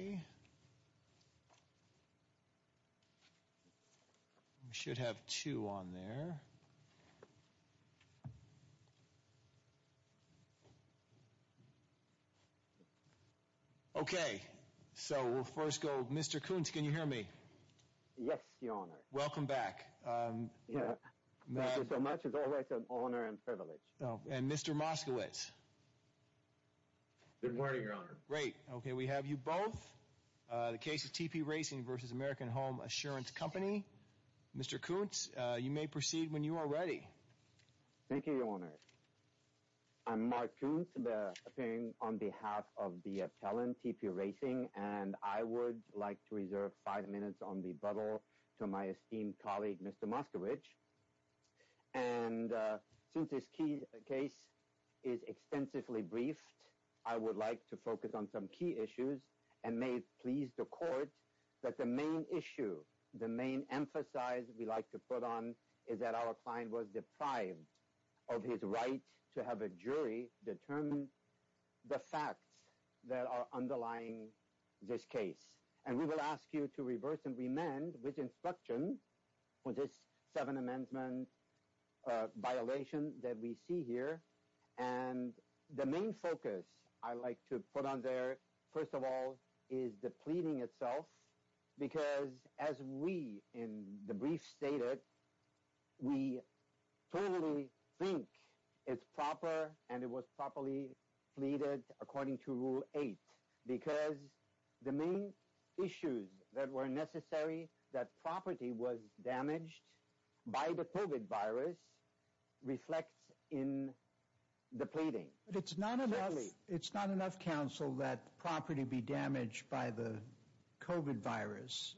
Okay. We should have two on there. Okay, so we'll first go with Mr. Koontz. Can you hear me? Yes, Your Honor. Welcome back. Thank you so much. It's always an honor and privilege. And Mr. Moskowitz. Good morning, Your Honor. Great. Okay, we have you both. The case is TP Racing v. American Home Assurance Co. Mr. Koontz, you may proceed when you are ready. Thank you, Your Honor. I'm Mark Koontz, appearing on behalf of the appellant, TP Racing, and I would like to reserve five minutes on rebuttal to my esteemed colleague, Mr. Moskowitz. And since this case is extensively briefed, I would like to focus on some key issues and may it please the court that the main issue, the main emphasis we like to put on is that our client was deprived of his right to have a jury determine the facts that are underlying this case. And we will ask you to reverse and remand with instruction for this seven-amendment violation that we see here. And the main focus I like to put on there, first of all, is the pleading itself, because as we in the brief stated, we totally think it's proper and it was properly pleaded according to Rule 8, because the main issues that were necessary that property was damaged by the COVID virus reflects in the pleading. It's not enough, counsel, that property be damaged by the COVID virus.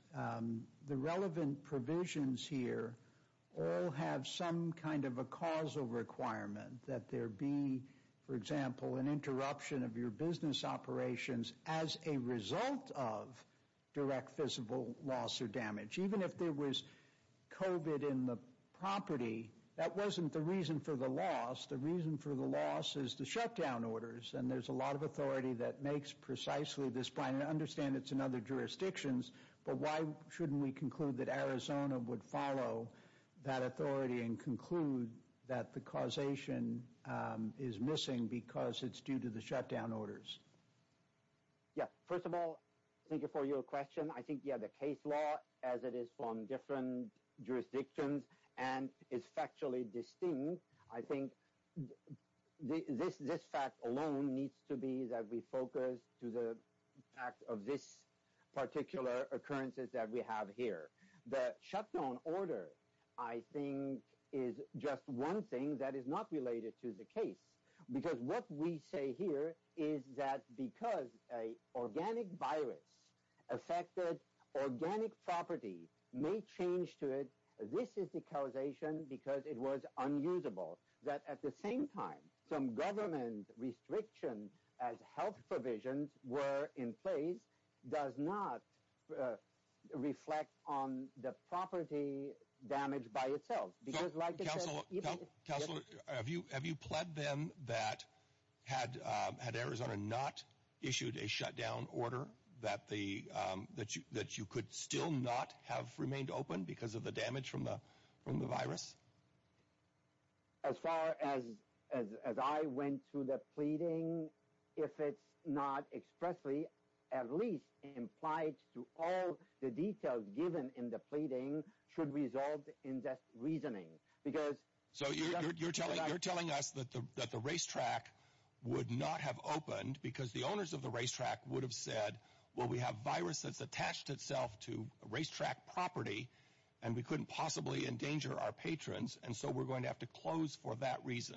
The relevant provisions here all have some kind of a causal requirement that there be, for example, an interruption of your business operations as a result of direct physical loss or damage. Even if there was COVID in the property, that wasn't the reason for the loss. The reason for the loss is the shutdown orders. And there's a lot of authority that makes precisely this point. I understand it's in other jurisdictions, but why shouldn't we conclude that Arizona would follow that authority and conclude that the causation is missing because it's due to the shutdown orders? Yeah, first of all, thank you for your question. I think, yeah, the case law, as it is from different jurisdictions and is factually distinct, I think this fact alone needs to be that we focus to the fact of this particular occurrences that we have here. The shutdown order, I think, is just one thing that is not related to the case. Because what we say here is that because an organic virus affected organic property may change to it. This is the causation because it was unusable. That at the same time, some government restrictions as health provisions were in place does not reflect on the property damage by itself. Counselor, have you pled them that had Arizona not issued a shutdown order, that you could still not have remained open because of the damage from the virus? As far as I went through the pleading, if it's not expressly at least implied that the damage to all the details given in the pleading should resolve in that reasoning. So you're telling us that the racetrack would not have opened because the owners of the racetrack would have said, well, we have virus that's attached itself to racetrack property and we couldn't possibly endanger our patrons, and so we're going to have to close for that reason.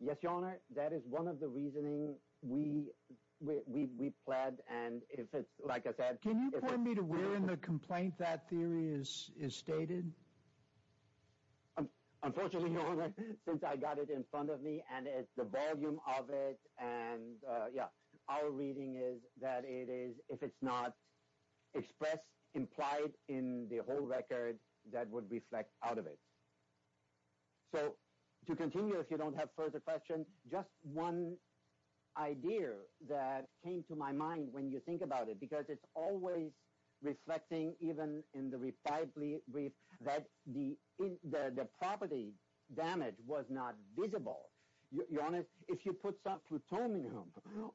Yes, Your Honor. That is one of the reasoning we pled. And if it's like I said, Can you point me to where in the complaint that theory is stated? Unfortunately, Your Honor, since I got it in front of me and the volume of it, and yeah, our reading is that it is if it's not expressed, implied in the whole record, that would reflect out of it. So to continue, if you don't have further questions, just one idea that came to my mind when you think about it, because it's always reflecting even in the reply brief that the property damage was not visible. Your Honor, if you put some plutonium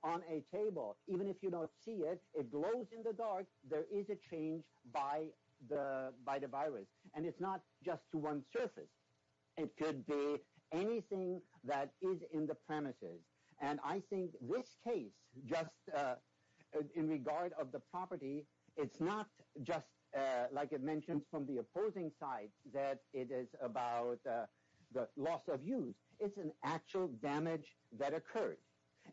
on a table, even if you don't see it, it glows in the dark, there is a change by the virus. And it's not just to one surface. It could be anything that is in the premises. And I think this case, just in regard of the property, it's not just like it mentioned from the opposing side that it is about the loss of use. It's an actual damage that occurred.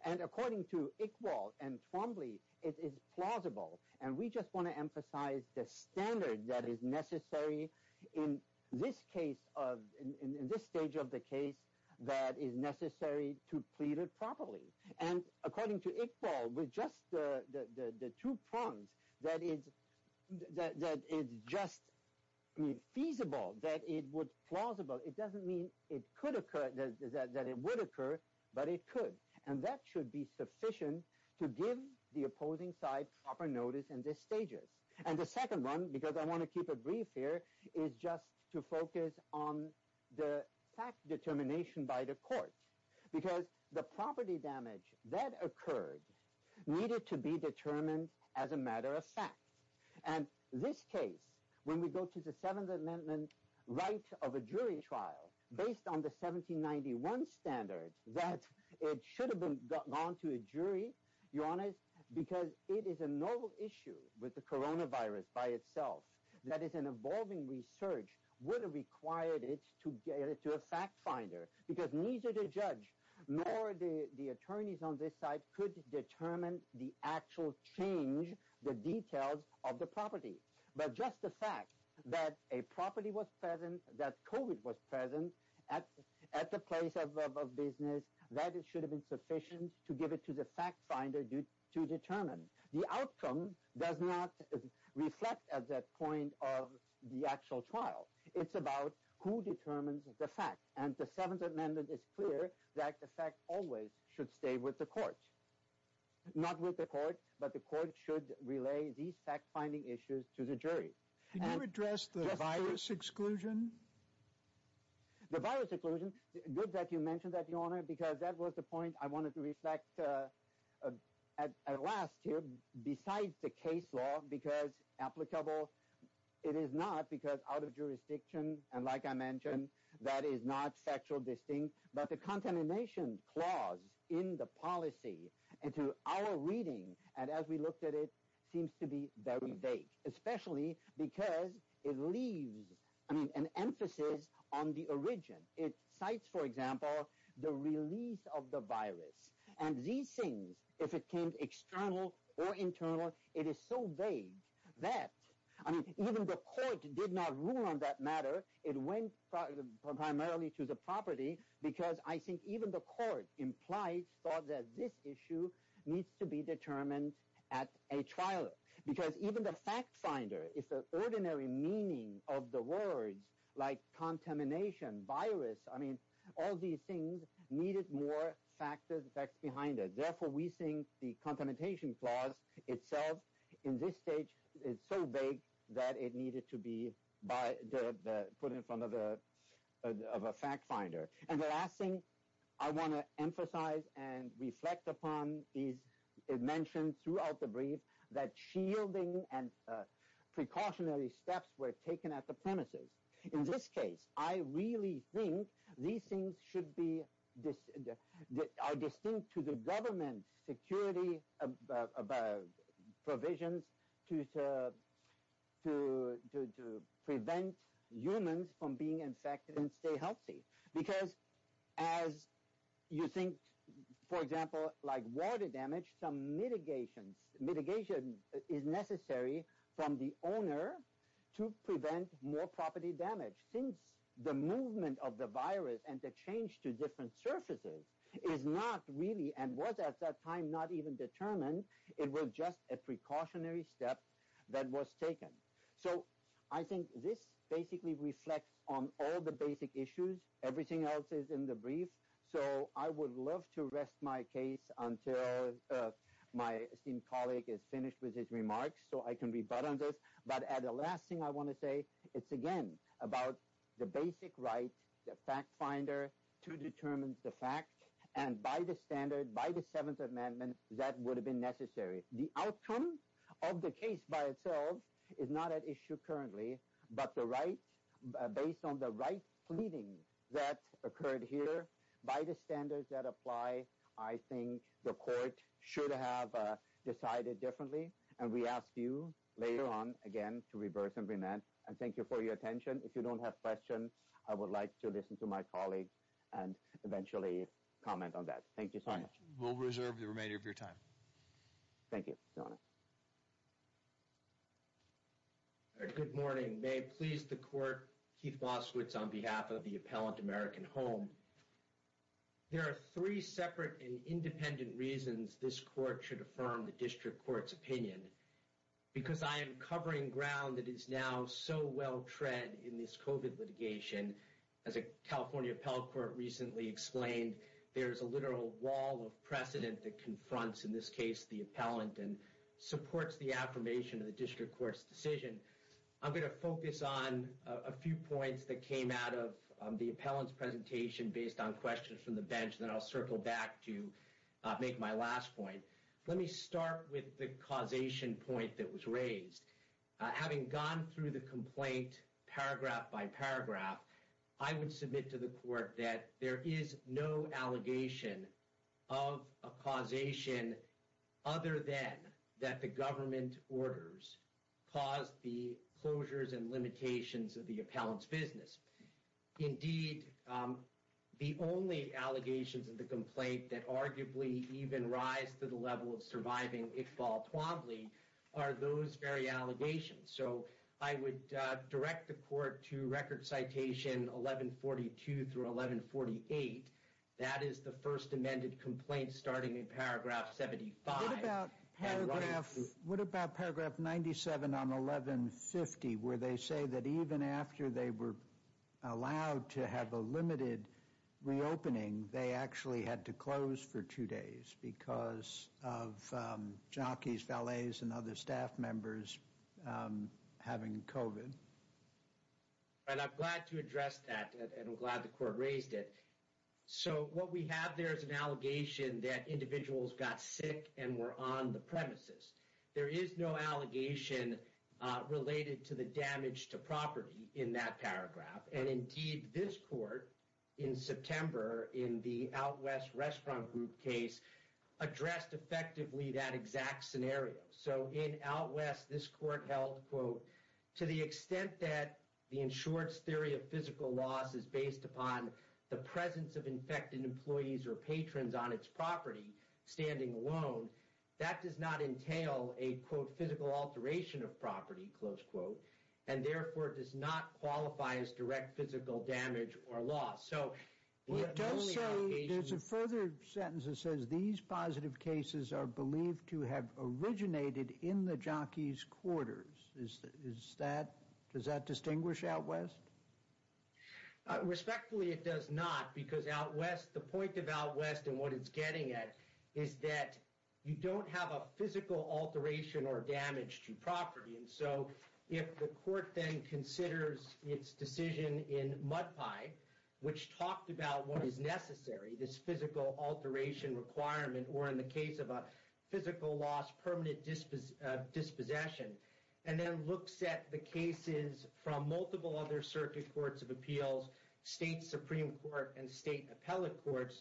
And according to Iqbal and Twombly, it is plausible. And we just want to emphasize the standard that is necessary in this stage of the case that is necessary to plead it properly. And according to Iqbal, with just the two prongs, that it's just feasible, that it was plausible, it doesn't mean it could occur, that it would occur, but it could. And that should be sufficient to give the opposing side proper notice in these stages. And the second one, because I want to keep it brief here, is just to focus on the fact determination by the court. Because the property damage that occurred needed to be determined as a matter of fact. And this case, when we go to the Seventh Amendment right of a jury trial, based on the 1791 standard, that it should have gone to a jury, Your Honor, because it is a novel issue with the coronavirus by itself. That is, an evolving research would have required it to get it to a fact finder. Because neither the judge nor the attorneys on this side could determine the actual change, the details of the property. But just the fact that a property was present, that COVID was present at the place of business, that it should have been sufficient to give it to the fact finder to determine. The outcome does not reflect at that point of the actual trial. It's about who determines the fact. And the Seventh Amendment is clear that the fact always should stay with the court. Not with the court, but the court should relay these fact-finding issues to the jury. Can you address the virus exclusion? The virus exclusion, good that you mentioned that, Your Honor, because that was the point I wanted to reflect at last here. Besides the case law, because applicable, it is not because out of jurisdiction. And like I mentioned, that is not factual distinct. But the contamination clause in the policy and through our reading, and as we looked at it, seems to be very vague. Especially because it leaves, I mean, an emphasis on the origin. It cites, for example, the release of the virus. And these things, if it came external or internal, it is so vague that, I mean, even the court did not rule on that matter. It went primarily to the property because I think even the court implied, thought that this issue needs to be determined at a trial. Because even the fact-finder, if the ordinary meaning of the words like contamination, virus, I mean, all these things needed more facts behind it. Therefore, we think the contamination clause itself in this stage is so vague that it needed to be put in front of a fact-finder. And the last thing I want to emphasize and reflect upon is it mentioned throughout the brief that shielding and precautionary steps were taken at the premises. In this case, I really think these things are distinct to the government's security provisions to prevent humans from being infected and stay healthy. Because as you think, for example, like water damage, some mitigation is necessary from the owner to prevent more property damage. Since the movement of the virus and the change to different surfaces is not really and was at that time not even determined, it was just a precautionary step that was taken. So I think this basically reflects on all the basic issues. Everything else is in the brief. So I would love to rest my case until my esteemed colleague is finished with his remarks so I can rebut on this. But the last thing I want to say, it's again about the basic right, the fact-finder, to determine the fact. And by the standard, by the Seventh Amendment, that would have been necessary. The outcome of the case by itself is not at issue currently, but based on the right pleading that occurred here, by the standards that apply, I think the court should have decided differently. And we ask you later on, again, to reverse and remand. And thank you for your attention. If you don't have questions, I would like to listen to my colleague and eventually comment on that. Thank you so much. We'll reserve the remainder of your time. Thank you, Your Honor. Good morning. May it please the court, Keith Boswitz on behalf of the Appellant American Home. There are three separate and independent reasons this court should affirm the district court's opinion. Because I am covering ground that is now so well-tread in this COVID litigation. As a California appellate court recently explained, there is a literal wall of precedent that confronts, in this case, the appellant and supports the affirmation of the district court's decision. I'm going to focus on a few points that came out of the appellant's presentation based on questions from the bench, and then I'll circle back to make my last point. Let me start with the causation point that was raised. Having gone through the complaint paragraph by paragraph, I would submit to the court that there is no allegation of a causation other than that the government orders caused the closures and limitations of the appellant's business. Indeed, the only allegations of the complaint that arguably even rise to the level of surviving, if all promptly, are those very allegations. So, I would direct the court to record citation 1142 through 1148. That is the first amended complaint starting in paragraph 75. What about paragraph 97 on 1150, where they say that even after they were allowed to have a limited reopening, they actually had to close for two days because of jockeys, valets, and other staff members having COVID? I'm glad to address that, and I'm glad the court raised it. So, what we have there is an allegation that individuals got sick and were on the premises. There is no allegation related to the damage to property in that paragraph. And indeed, this court, in September, in the Out West Restaurant Group case, addressed effectively that exact scenario. So, in Out West, this court held, quote, to the extent that the insured's theory of physical loss is based upon the presence of infected employees or patrons on its property standing alone, that does not entail a, quote, physical alteration of property, close quote. And therefore, it does not qualify as direct physical damage or loss. There's a further sentence that says these positive cases are believed to have originated in the jockeys' quarters. Does that distinguish Out West? Respectfully, it does not, because Out West, the point of Out West and what it's getting at is that you don't have a physical alteration or damage to property. And so, if the court then considers its decision in Mudpipe, which talked about what is necessary, this physical alteration requirement, or in the case of a physical loss, permanent dispossession, and then looks at the cases from multiple other circuit courts of appeals, state supreme court, and state appellate courts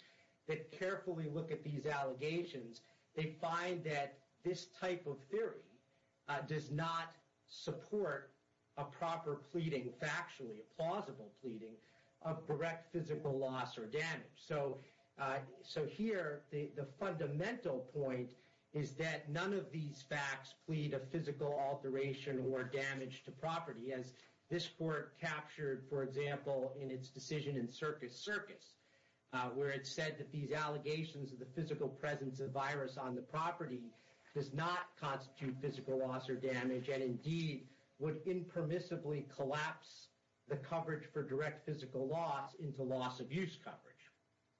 that carefully look at these allegations, they find that this type of theory does not support a proper pleading factually, a plausible pleading of direct physical loss or damage. So, here, the fundamental point is that none of these facts plead a physical alteration or damage to property, as this court captured, for example, in its decision in Circus Circus, where it said that these allegations of the physical presence of virus on the property does not constitute physical loss or damage, and indeed would impermissibly collapse the coverage for direct physical loss into loss of use coverage,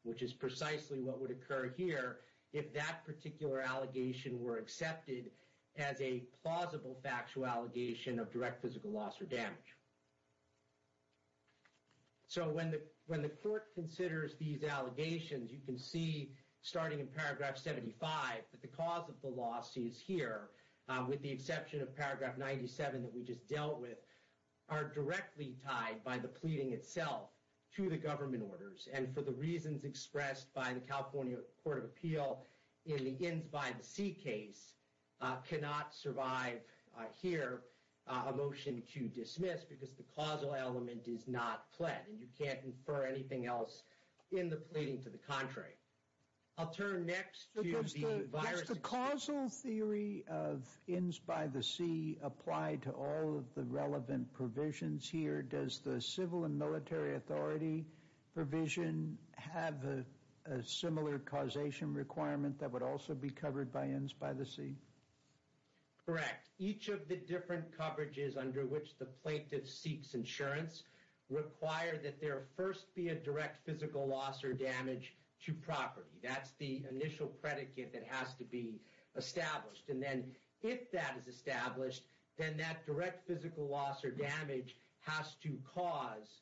which is precisely what would occur here if that particular allegation were accepted as a plausible factual allegation of direct physical loss or damage. So, when the court considers these allegations, you can see, starting in paragraph 75, that the cause of the loss is here, with the exception of paragraph 97 that we just dealt with, are directly tied by the pleading itself to the government orders, and for the reasons expressed by the California Court of Appeal in the Innsby C case cannot survive here a motion to dismiss, because the causal element is not pled, and you can't infer anything else in the pleading to the contrary. I'll turn next to the virus... Does the causal theory of Innsby C apply to all of the relevant provisions here? Does the civil and military authority provision have a similar causation requirement that would also be covered by Innsby C? Correct. Each of the different coverages under which the plaintiff seeks insurance require that there first be a direct physical loss or damage to property. That's the initial predicate that has to be established, and then if that is established, then that direct physical loss or damage has to cause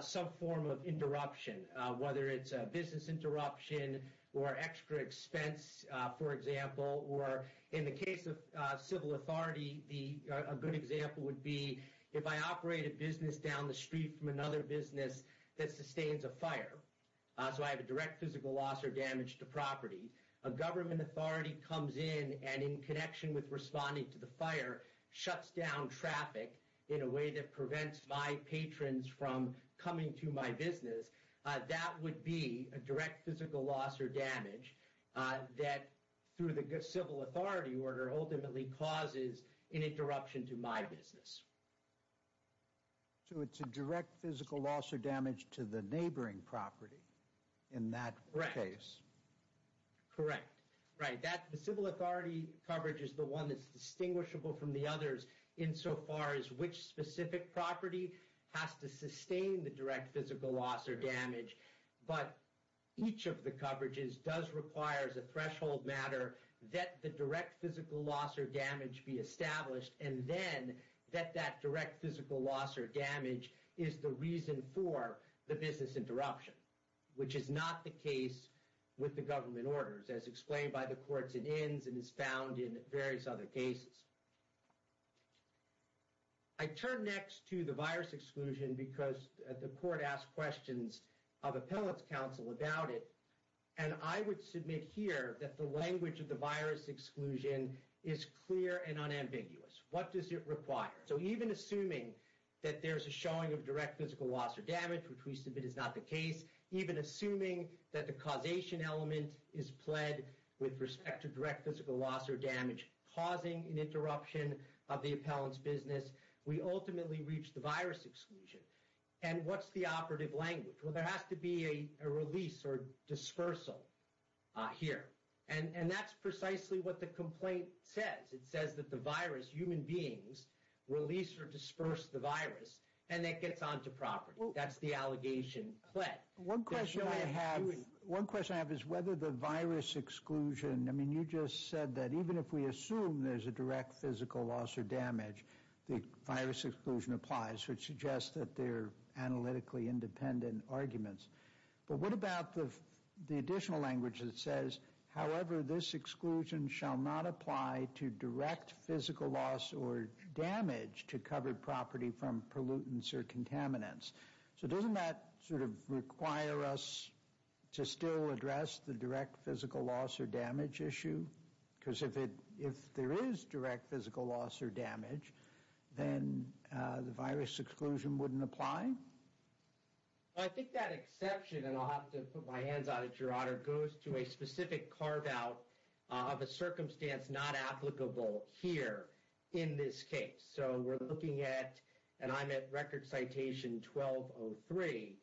some form of interruption, whether it's a business interruption or extra expense, for example, or in the case of civil authority, a good example would be if I operate a business down the street from another business that sustains a fire, so I have a direct physical loss or damage to property. A government authority comes in and in connection with responding to the fire, shuts down traffic in a way that prevents my patrons from coming to my business. That would be a direct physical loss or damage that, through the civil authority order, ultimately causes an interruption to my business. So it's a direct physical loss or damage to the neighboring property in that case? Correct. Correct. Right. The civil authority coverage is the one that's distinguishable from the others insofar as which specific property has to sustain the direct physical loss or damage, but each of the coverages does require, as a threshold matter, that the direct physical loss or damage be established, and then that that direct physical loss or damage is the reason for the business interruption, which is not the case with the government orders, as explained by the courts and ends and is found in various other cases. I turn next to the virus exclusion because the court asked questions of appellate's counsel about it, and I would submit here that the language of the virus exclusion is clear and unambiguous. What does it require? So even assuming that there's a showing of direct physical loss or damage, which we submit is not the case, even assuming that the causation element is pled with respect to direct physical loss or damage, causing an interruption of the appellant's business, we ultimately reach the virus exclusion. And what's the operative language? Well, there has to be a release or dispersal here, and that's precisely what the complaint says. It says that the virus, human beings, release or disperse the virus, and that gets onto property. That's the allegation. One question I have is whether the virus exclusion, I mean, you just said that even if we assume there's a direct physical loss or damage, the virus exclusion applies, which suggests that they're analytically independent arguments. But what about the additional language that says, however, this exclusion shall not apply to direct physical loss or damage to covered property from pollutants or contaminants. So doesn't that sort of require us to still address the direct physical loss or damage issue? Because if there is direct physical loss or damage, then the virus exclusion wouldn't apply? I think that exception, and I'll have to put my hands out at your honor, goes to a specific carve-out of a circumstance not applicable here in this case. So we're looking at, and I'm at record citation 1203.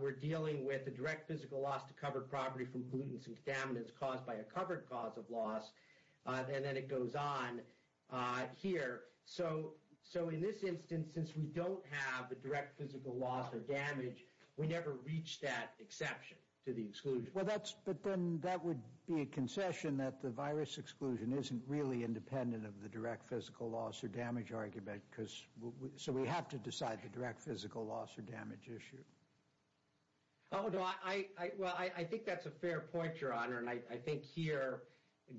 We're dealing with a direct physical loss to covered property from pollutants and contaminants caused by a covered cause of loss, and then it goes on here. So in this instance, since we don't have a direct physical loss or damage, we never reach that exception to the exclusion. Well, that's, but then that would be a concession that the virus exclusion isn't really independent of the direct physical loss or damage argument. So we have to decide the direct physical loss or damage issue. Well, I think that's a fair point, your honor. And I think here,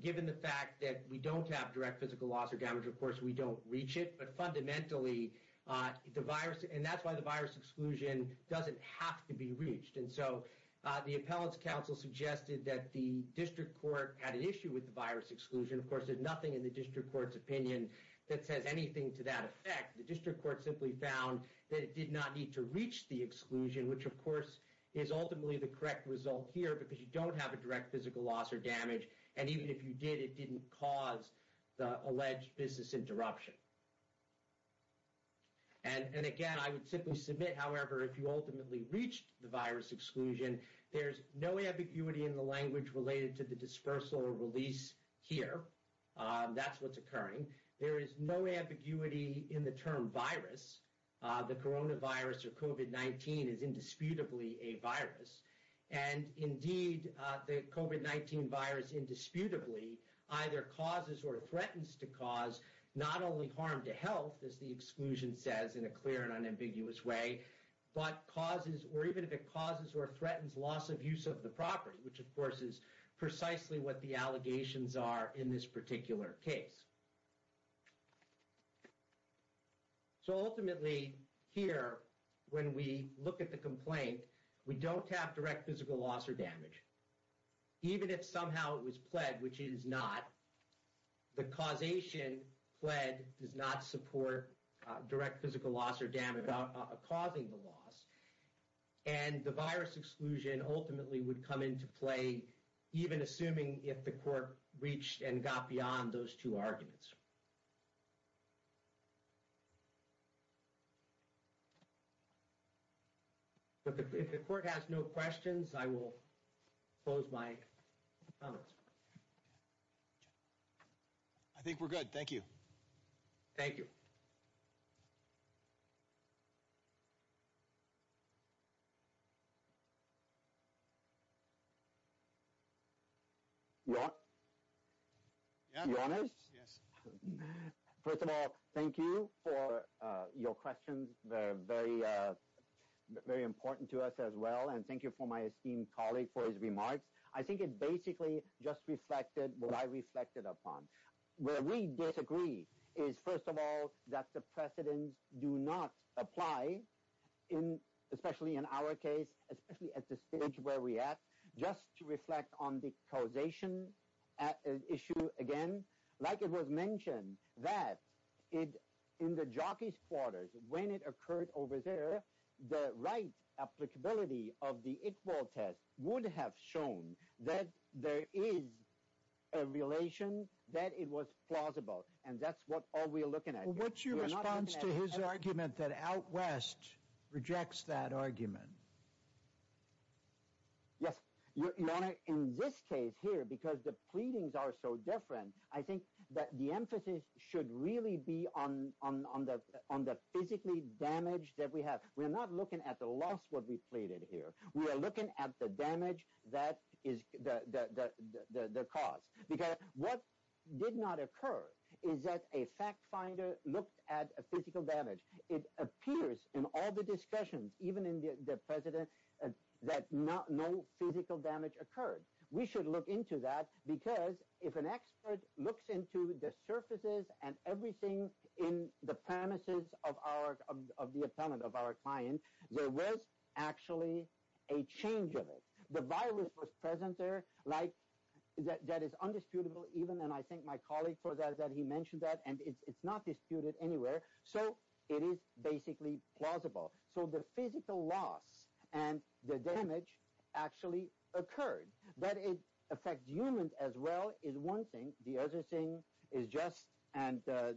given the fact that we don't have direct physical loss or damage, of course, we don't reach it. But fundamentally, the virus, and that's why the virus exclusion doesn't have to be reached. And so the appellate's counsel suggested that the district court had an issue with the virus exclusion. Of course, there's nothing in the district court's opinion that says anything to that effect. The district court simply found that it did not need to reach the exclusion, which, of course, is ultimately the correct result here, because you don't have a direct physical loss or damage. And even if you did, it didn't cause the alleged business interruption. And again, I would simply submit, however, if you ultimately reached the virus exclusion, there's no ambiguity in the language related to the dispersal or release here. That's what's occurring. There is no ambiguity in the term virus. The coronavirus or COVID-19 is indisputably a virus. And indeed, the COVID-19 virus indisputably either causes or threatens to cause not only harm to health, as the exclusion says in a clear and unambiguous way, but causes or even if it causes or threatens loss of use of the property, which, of course, is precisely what the allegations are in this particular case. So ultimately, here, when we look at the complaint, we don't have direct physical loss or damage. Even if somehow it was pled, which it is not, the causation, pled, does not support direct physical loss or damage causing the loss. And the virus exclusion ultimately would come into play, even assuming if the court reached and got beyond those two arguments. If the court has no questions, I will close my comments. I think we're good. Thank you. Thank you. Your Honor? Yes. First of all, thank you for your questions. They're very important to us as well. And thank you for my esteemed colleague for his remarks. I think it basically just reflected what I reflected upon. Where we disagree is, first of all, that the precedents do not apply, especially in our case, especially at the stage where we're at, just to reflect on the causation issue again. Like it was mentioned, that in the jockey's quarters, when it occurred over there, the right applicability of the Iqbal test would have shown that there is a relation, that it was plausible. And that's what all we're looking at here. Well, what's your response to his argument that Out West rejects that argument? Yes. Your Honor, in this case here, because the pleadings are so different, I think that the emphasis should really be on the physically damaged that we have. We're not looking at the loss, what we pleaded here. We are looking at the damage that is the cause. Because what did not occur is that a fact finder looked at a physical damage. It appears in all the discussions, even in the precedent, that no physical damage occurred. We should look into that, because if an expert looks into the surfaces and everything in the premises of the attendant, of our client, there was actually a change of it. The virus was present there, like, that is undisputable even, and I thank my colleague for that, that he mentioned that, and it's not disputed anywhere. So it is basically plausible. So the physical loss and the damage actually occurred. That it affects humans as well is one thing. The other thing is just, and the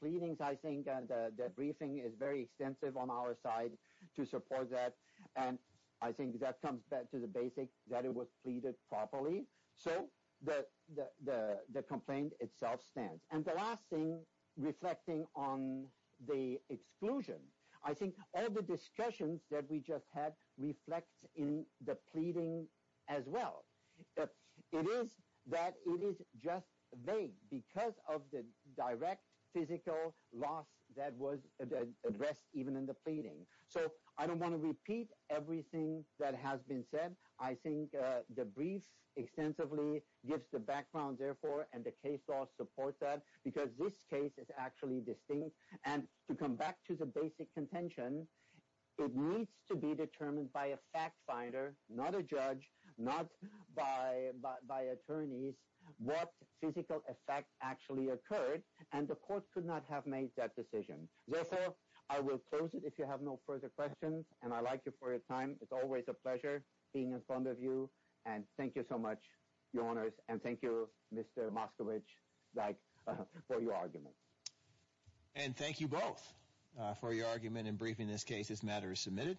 pleadings, I think, and the briefing is very extensive on our side to support that, and I think that comes back to the basic that it was pleaded properly. So the complaint itself stands. And the last thing, reflecting on the exclusion, I think all the discussions that we just had reflect in the pleading as well. It is that it is just vague because of the direct physical loss that was addressed even in the pleading. So I don't want to repeat everything that has been said. I think the brief extensively gives the background, therefore, and the case law supports that, because this case is actually distinct. And to come back to the basic contention, it needs to be determined by a fact finder, not a judge, not by attorneys what physical effect actually occurred, and the court could not have made that decision. Therefore, I will close it if you have no further questions, and I thank you for your time. It's always a pleasure being in front of you, and thank you so much, your honors, and thank you, Mr. Moskowitz, for your argument. And thank you both for your argument in briefing this case. This matter is submitted.